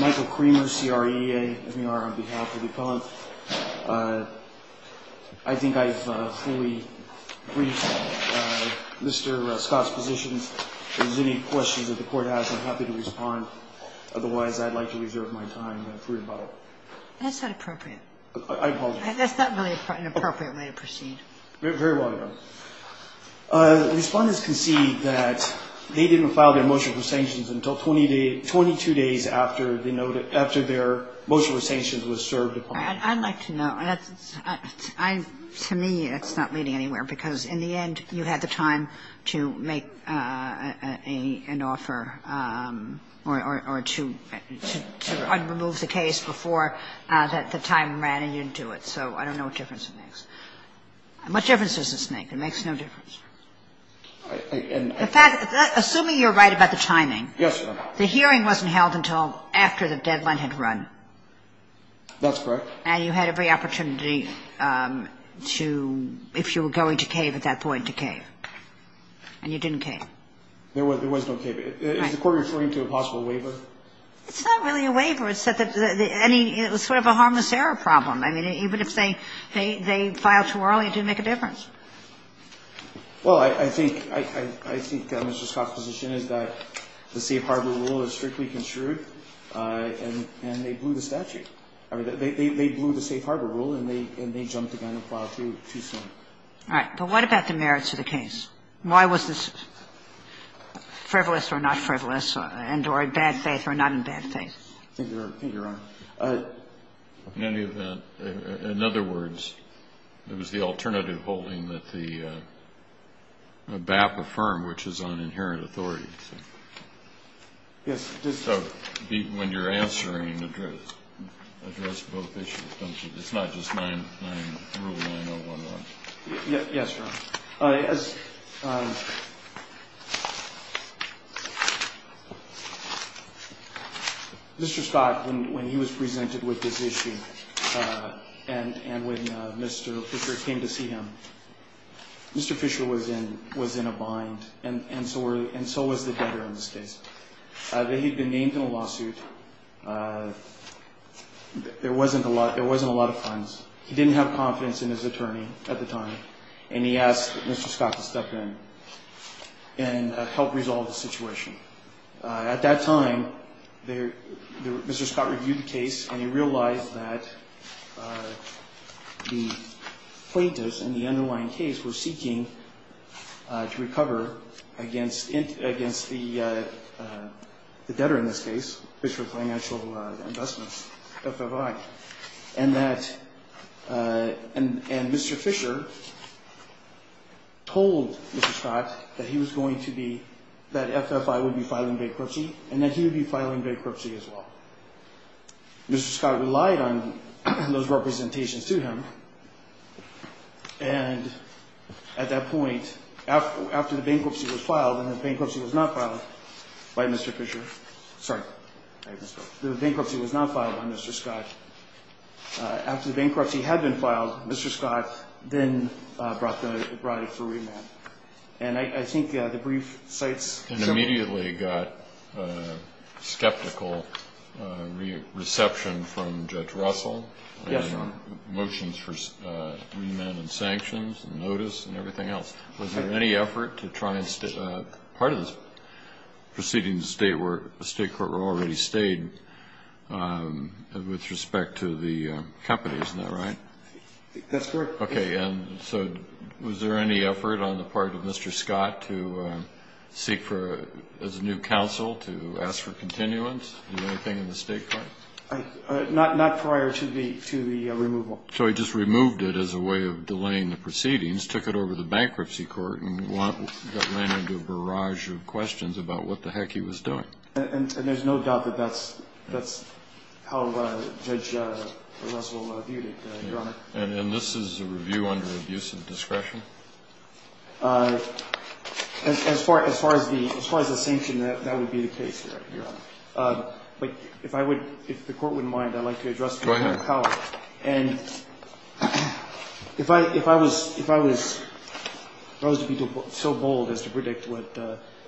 Michael Kramer, CREA I think I have fully briefed Mr. Scott's positions. If there is any questions that the Court has, I'm happy to respond. Otherwise, I'd like to reserve my time and fruit a bottle. That's not appropriate. I apologize. Very well, Your Honor. Respondents concede that they didn't file their motion for sanctions until 22 days after their motion for sanctions was served. I'd like to know. To me, it's not leading anywhere because, in the end, you had the time to make an offer or to remove the case before the time ran and you didn't do it. So I don't know what difference it makes. What difference does it make? It makes no difference. Assuming you're right about the timing. Yes, Your Honor. The hearing wasn't held until after the deadline had run. That's correct. And you had every opportunity to, if you were going to cave at that point, to cave. And you didn't cave. There was no cave. Is the Court referring to a possible waiver? It's not really a waiver. It's sort of a harmless error problem. I mean, even if they file too early, it didn't make a difference. Well, I think Mr. Scott's position is that the safe harbor rule is strictly construed and they blew the statute. I mean, they blew the safe harbor rule and they jumped again and filed too soon. All right. But what about the merits of the case? Why was this frivolous or not frivolous and or in bad faith or not in bad faith? I think you're right. In any event, in other words, it was the alternative holding that the BAPA firm, which is on inherent authority. Yes. So when you're answering, address both issues. It's not just rule 9011. Yes, Your Honor. Mr. Scott, when he was presented with this issue and when Mr. Fisher came to see him, Mr. Fisher was in a bind. And so was the debtor in this case. He'd been named in a lawsuit. There wasn't a lot of funds. He didn't have confidence in his attorney at the time. And he asked Mr. Scott to step in and help resolve the situation. At that time, Mr. Scott reviewed the case and he realized that the plaintiffs in the underlying case were seeking to recover against the debtor in this case, Fisher Financial Investments, FFI. And Mr. Fisher told Mr. Scott that he was going to be, that FFI would be filing bankruptcy and that he would be filing bankruptcy as well. Mr. Scott relied on those representations to him. And at that point, after the bankruptcy was filed, and the bankruptcy was not filed by Mr. Fisher. Sorry. The bankruptcy was not filed by Mr. Scott. After the bankruptcy had been filed, Mr. Scott then brought it for remand. And I think the brief cites several. You immediately got skeptical reception from Judge Russell. Yes, Your Honor. Motions for remand and sanctions and notice and everything else. Was there any effort to try and, part of this proceeding state court were already stayed with respect to the company. Isn't that right? That's correct. Okay. And so was there any effort on the part of Mr. Scott to seek for, as a new counsel, to ask for continuance? Anything in the state court? Not prior to the removal. So he just removed it as a way of delaying the proceedings, took it over to the bankruptcy court, and got landed into a barrage of questions about what the heck he was doing. And there's no doubt that that's how Judge Russell viewed it, Your Honor. And this is a review under abuse of discretion? As far as the sanction, that would be the case, Your Honor. But if I would, if the Court wouldn't mind, I'd like to address the inherent power. Go ahead. And if I was, if I was, if I was to be so bold as to predict what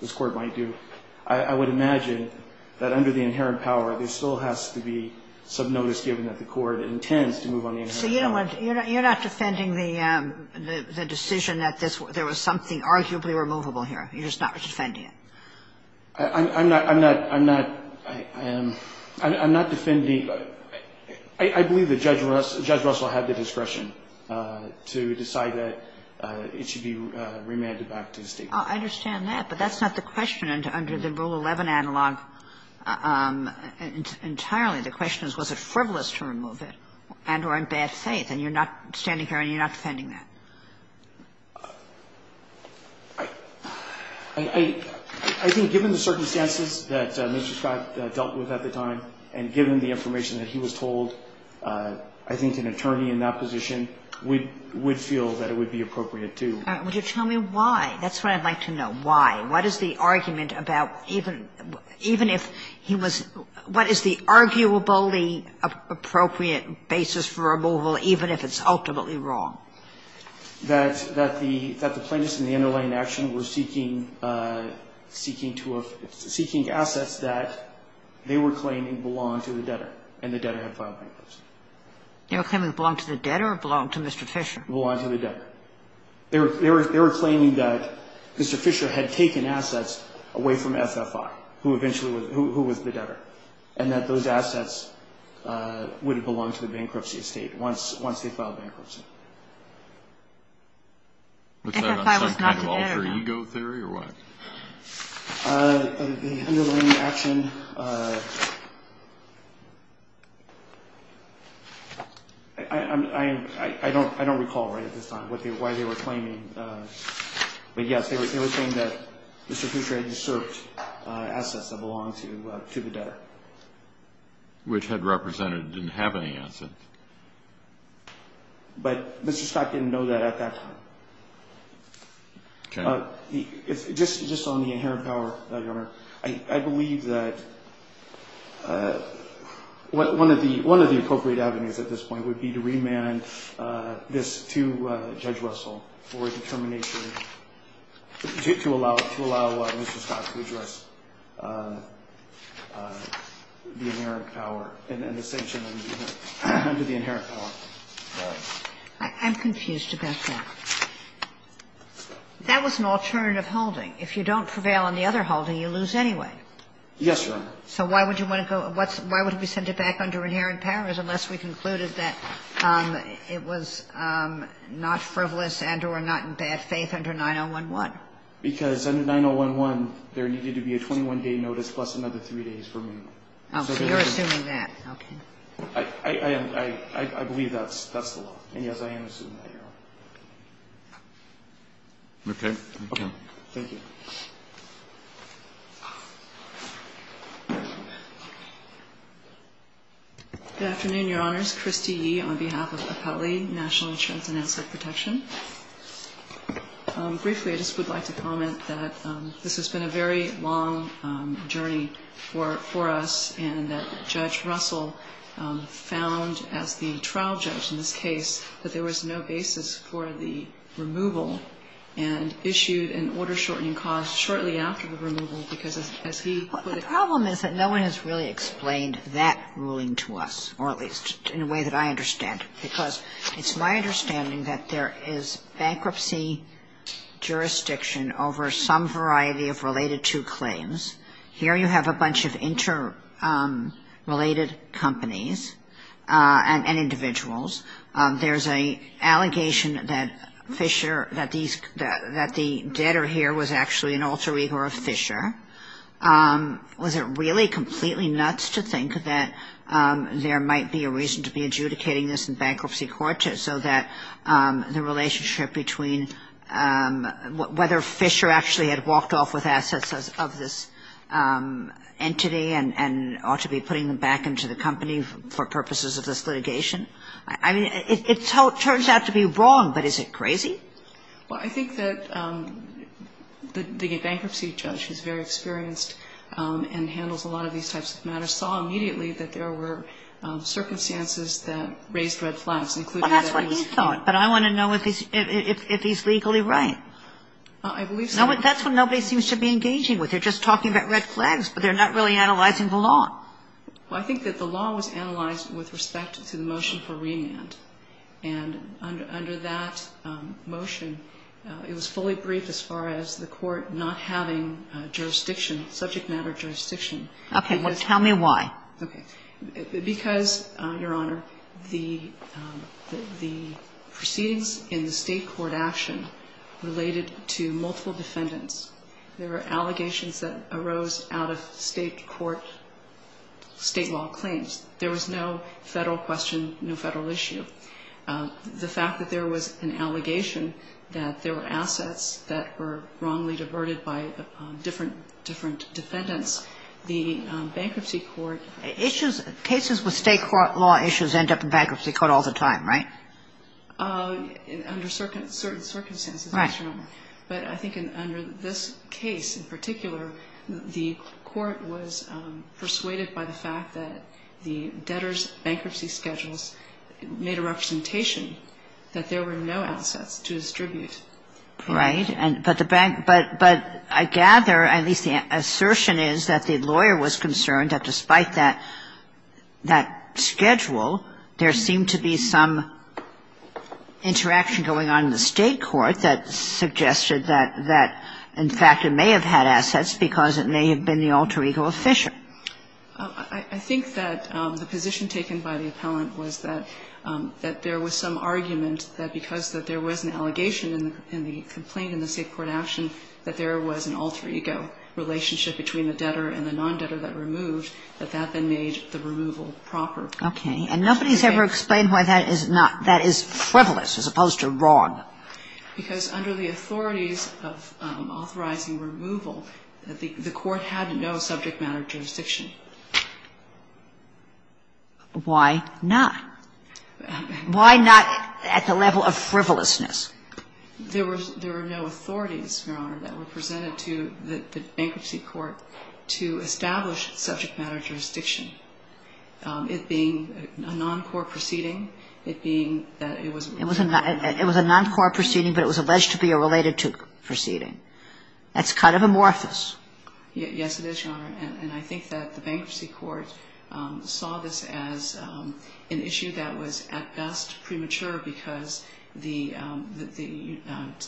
this Court might do, I would imagine that under the inherent power, there still has to be some notice given that the Court intends to move on the inherent power. So you don't want to, you're not defending the decision that this, there was something arguably removable here? You're just not defending it? I'm not, I'm not, I'm not, I am, I'm not defending, I believe that Judge Russell had the discretion to decide that it should be remanded back to the state court. I understand that, but that's not the question under the Rule 11 analog entirely. The question is, was it frivolous to remove it and or in bad faith? And you're not standing here and you're not defending that? I think given the circumstances that Mr. Scott dealt with at the time and given the information that he was told, I think an attorney in that position would feel that it would be appropriate to. Would you tell me why? That's what I'd like to know, why. What is the argument about even, even if he was, what is the arguably appropriate basis for removal even if it's ultimately wrong? That, that the, that the plaintiffs in the underlying action were seeking, seeking to, seeking assets that they were claiming belonged to the debtor and the debtor had filed plaintiffs. They were claiming it belonged to the debtor or belonged to Mr. Fisher? Belonged to the debtor. They were, they were, they were claiming that Mr. Fisher had taken assets away from FFI, who eventually was, who, who was the debtor, and that those assets would have belonged to the bankruptcy estate once, once they filed bankruptcy. FFI was not there. Was that some kind of alter ego theory or what? The underlying action, I, I, I, I, I don't, I don't recall right at this time what they, why they were claiming, but yes, they were, they were saying that Mr. Fisher had usurped assets that belonged to, to the debtor. Which had represented, didn't have any assets. But Mr. Scott didn't know that at that time. Okay. Just, just on the inherent power, Your Honor, I, I believe that one of the, one of the appropriate avenues at this point would be to remand this to Judge Russell for a determination, to allow, to allow Mr. Scott to address the inherent power and, and the sanction under the inherent, under the inherent power. All right. I'm confused about that. That was an alternative holding. If you don't prevail on the other holding, you lose anyway. Yes, Your Honor. So why would you want to go, what's, why would we send it back under inherent powers unless we concluded that it was not frivolous and or not in bad faith under 9011? Because under 9011, there needed to be a 21-day notice plus another three days for remand. Oh, so you're assuming that. Okay. I, I, I, I, I believe that's, that's the law. And yes, I am assuming that, Your Honor. Okay. Okay. Thank you. Good afternoon, Your Honors. Christy Yee on behalf of Appellee National Insurance and Asset Protection. Briefly, I just would like to comment that this has been a very long journey for, for us and that Judge Russell found as the trial judge in this case that there was no basis for the removal and issued an order-shortening clause that said that there was no basis for the removal and issued an order-shortening clause that said that there was no basis for the removal and issued an order-shortening clause shortly after the removal because as he put it. Well, the problem is that no one has really explained that ruling to us or at least in a way that I understand because it's my understanding that there is bankruptcy jurisdiction over some variety of related to claims. Here you have a bunch of interrelated companies and individuals. There's an allegation that Fisher, that the debtor here was actually an alter ego of Fisher. Was it really completely nuts to think that there might be a reason to be adjudicating this in bankruptcy court so that the relationship between whether Fisher actually had walked off with assets of this entity and ought to be putting them back into the company for purposes of this litigation? I mean, it turns out to be wrong, but is it crazy? Well, I think that the bankruptcy judge who's very experienced and handles a lot of these types of matters saw immediately that there were circumstances that raised red flags. And I think that's what he thought, but I want to know if he's legally right. I believe so. That's what nobody seems to be engaging with. They're just talking about red flags, but they're not really analyzing the law. Well, I think that the law was analyzed with respect to the motion for remand. And under that motion, it was fully briefed as far as the court not having jurisdiction, subject matter jurisdiction. Okay. Well, tell me why. Because, Your Honor, the proceedings in the state court action related to multiple defendants, there were allegations that arose out of state court, state law claims. There was no Federal question, no Federal issue. The fact that there was an allegation that there were assets that were wrongly diverted by different defendants, the bankruptcy court ---- Issues, cases with state law issues end up in bankruptcy court all the time, right? Under certain circumstances, Your Honor. Right. But I think under this case in particular, the court was persuaded by the fact that the debtors' bankruptcy schedules made a representation that there were no assets to distribute. Right. But the bank ---- but I gather, at least the assertion is, that the lawyer was concerned that despite that schedule, there seemed to be some interaction going on in the state court that suggested that, in fact, it may have had assets because it may have been the alter ego of Fisher. I think that the position taken by the appellant was that there was some argument that because there was an allegation in the complaint in the state court action that there was an alter ego relationship between the debtor and the non-debtor that removed, that that then made the removal proper. Okay. And nobody's ever explained why that is not ---- that is frivolous as opposed to wrong. Because under the authorities of authorizing removal, the court had no subject matter jurisdiction. Why not? Why not at the level of frivolousness? There were no authorities, Your Honor, that were presented to the bankruptcy court to establish subject matter jurisdiction. It being a non-court proceeding, it being that it was ---- It was a non-court proceeding, but it was alleged to be a related proceeding. That's kind of amorphous. Yes, it is, Your Honor. And I think that the bankruptcy court saw this as an issue that was, at best, premature because the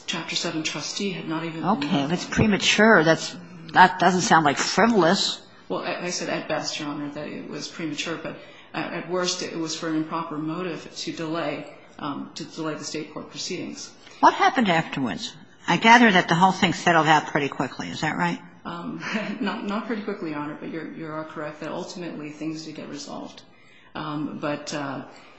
Chapter 7 trustee had not even ---- Okay. That's premature. That doesn't sound like frivolous. Well, I said, at best, Your Honor, that it was premature. But at worst, it was for an improper motive to delay the state court proceedings. What happened afterwards? I gather that the whole thing settled out pretty quickly. Is that right? Not pretty quickly, Your Honor, but you are correct that ultimately things did get resolved. But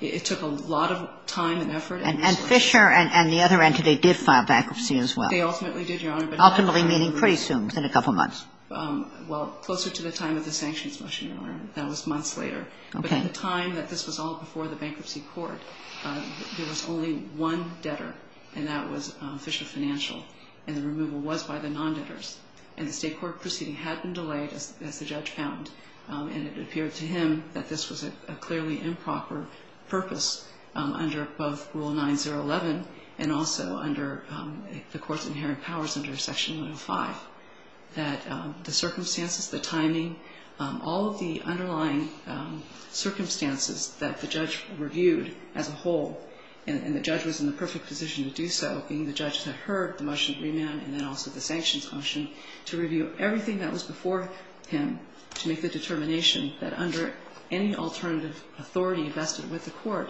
it took a lot of time and effort. And Fisher and the other entity did file bankruptcy as well. They ultimately did, Your Honor. Ultimately meaning pretty soon, within a couple months. Well, closer to the time of the sanctions motion, Your Honor. That was months later. Okay. But at the time that this was all before the bankruptcy court, there was only one debtor, and that was Fisher Financial. And the removal was by the non-debtors. And the state court proceeding had been delayed, as the judge found. And it appeared to him that this was a clearly improper purpose under both Rule 9011 and also under the court's inherent powers under Section 105, that the circumstances, the timing, all of the underlying circumstances that the judge reviewed as a whole, and the judge was in the perfect position to do so, being the judge that heard the motion to review everything that was before him to make the determination that under any alternative authority vested with the court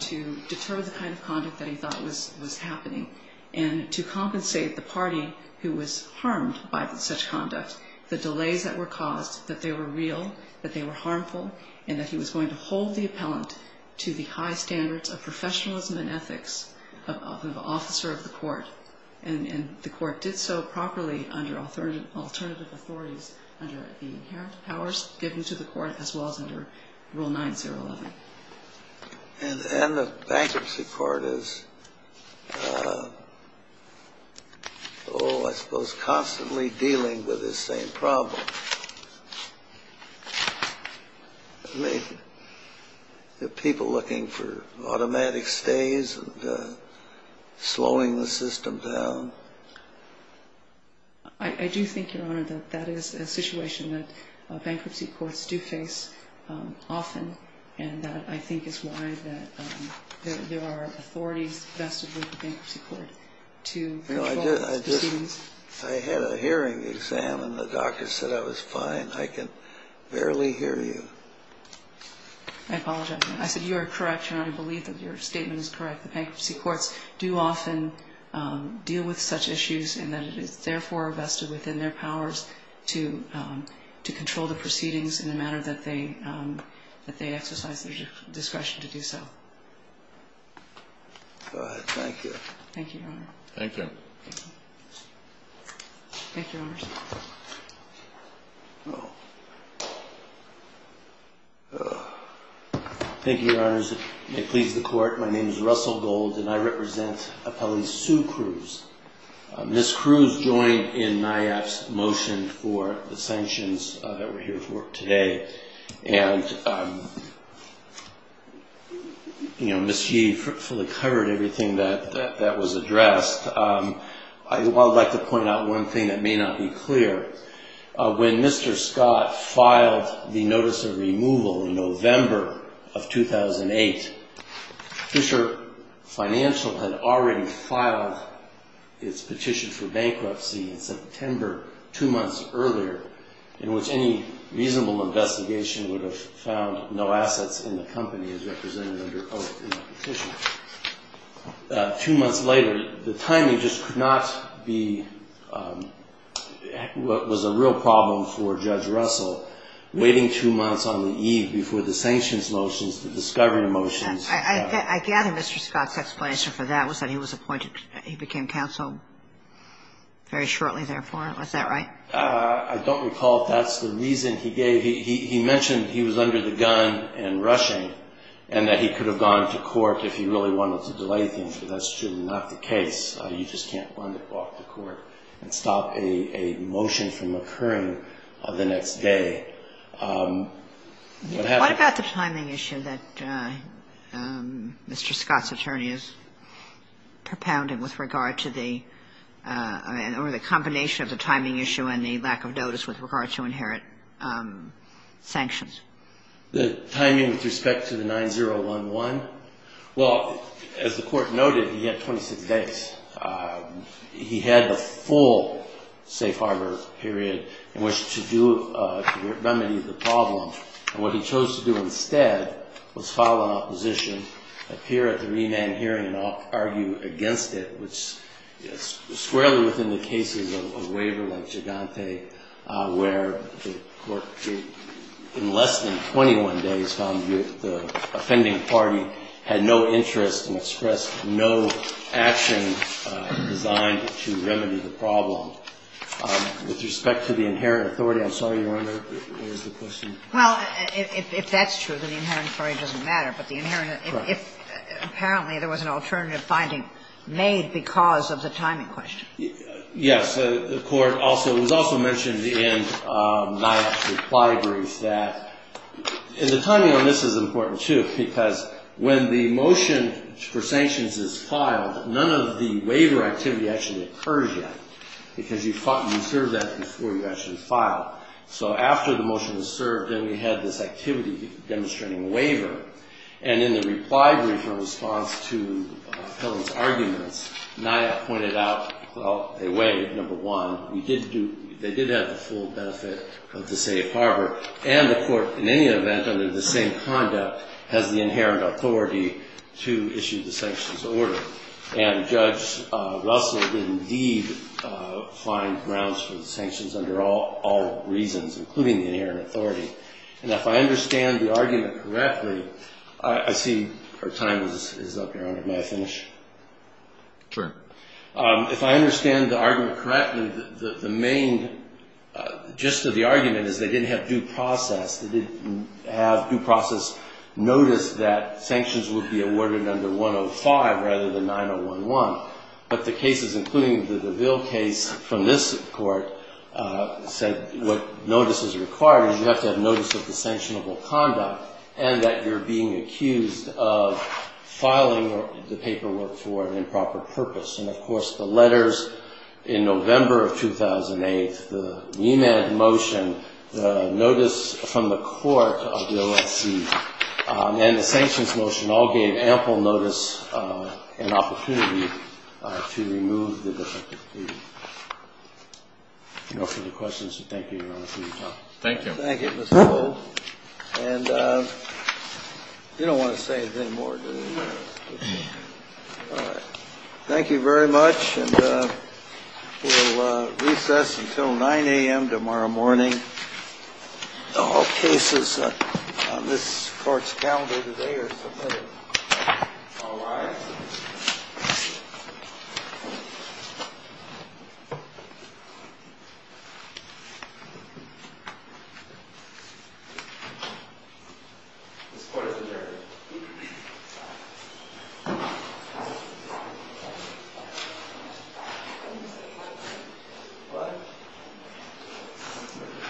to deter the kind of conduct that he thought was happening and to compensate the party who was harmed by such conduct, the delays that were caused, that they were real, that they were harmful, and that he was going to hold the appellant to the high standards of professionalism and ethics of an officer of the court. And the court did so properly under alternative authorities under the inherent powers given to the court as well as under Rule 9011. And the bankruptcy court is, oh, I suppose, constantly dealing with this same problem. I mean, the people looking for automatic stays and slowing the system down. I do think, Your Honor, that that is a situation that bankruptcy courts do face often, and that I think is why there are authorities vested with the bankruptcy court to control these proceedings. I had a hearing exam, and the doctor said I was fine. I can barely hear you. I apologize. I said you are correct, Your Honor. I believe that your statement is correct. The bankruptcy courts do often deal with such issues and that it is therefore vested within their powers to control the proceedings in the manner that they exercise their discretion to do so. Go ahead. Thank you. Thank you, Your Honor. Thank you. Thank you, Your Honors. Thank you, Your Honors. May it please the court, my name is Russell Gold, and I represent appellee Sue Cruz. Ms. Cruz joined in NIAF's motion for the sanctions that we're here for today. And, you know, Ms. Yee fully covered everything that was addressed. I would like to point out one thing that may not be clear. When Mr. Scott filed the notice of removal in November of 2008, Fisher Financial had already filed its petition for bankruptcy in September, two months earlier, in which any reasonable investigation would have found no assets in the company as represented under oath in the petition. Two months later, the timing just could not be what was a real problem for Judge Russell, waiting two months on the eve before the sanctions motions, the discovery motions. I gather Mr. Scott's explanation for that was that he was appointed, he became counsel very shortly, therefore. Is that right? I don't recall if that's the reason he gave. He mentioned he was under the gun and rushing, and that he could have gone to court if he really wanted to delay things, but that's truly not the case. You just can't want to walk to court and stop a motion from occurring the next day. What about the timing issue that Mr. Scott's attorney is propounding with regard to the or the combination of the timing issue and the lack of notice with regard to inherit sanctions? The timing with respect to the 9011? Well, as the Court noted, he had 26 days. He had a full safe harbor period in which to do, to remedy the problem. And what he chose to do instead was file an opposition, appear at the remand hearing and argue against it, which is squarely within the cases of a waiver like Gigante, where the Court in less than 21 days found the offending party had no interest and expressed no action designed to remedy the problem. With respect to the inherent authority, I'm sorry, Your Honor, what was the question? Well, if that's true, then the inherent authority doesn't matter. But the inherent, if apparently there was an alternative finding made because of the timing question. Yes. The Court also, it was also mentioned in my reply brief that, and the timing on this is important, too, because when the motion for sanctions is filed, none of the waiver activity actually occurs yet because you thought you served that before you actually filed. So after the motion was served, then we had this activity demonstrating waiver. And in the reply brief in response to Helen's arguments, NIA pointed out, well, they waived, number one. We did do, they did have the full benefit of the safe harbor. And the Court, in any event, under the same conduct, has the inherent authority to issue the sanctions order. And Judge Russell did indeed find grounds for the sanctions under all reasons, including the inherent authority. And if I understand the argument correctly, I see her time is up, Your Honor. May I finish? Sure. If I understand the argument correctly, the main gist of the argument is they didn't have due process. They didn't have due process notice that sanctions would be awarded under 105 rather than 9011. But the cases, including the DeVille case from this Court, said what notice is required is you have to have notice of the And, of course, the letters in November of 2008, the NEMAD motion, the notice from the Court of the OSC, and the sanctions motion all gave ample notice and opportunity to remove the defective deed. If you have any questions, thank you, Your Honor, for your time. Thank you. Thank you, Mr. Gold. And you don't want to say anything more, do you? No. All right. Thank you very much. And we'll recess until 9 a.m. tomorrow morning. All cases on this Court's calendar today are submitted. All rise. This Court is adjourned. Thank you.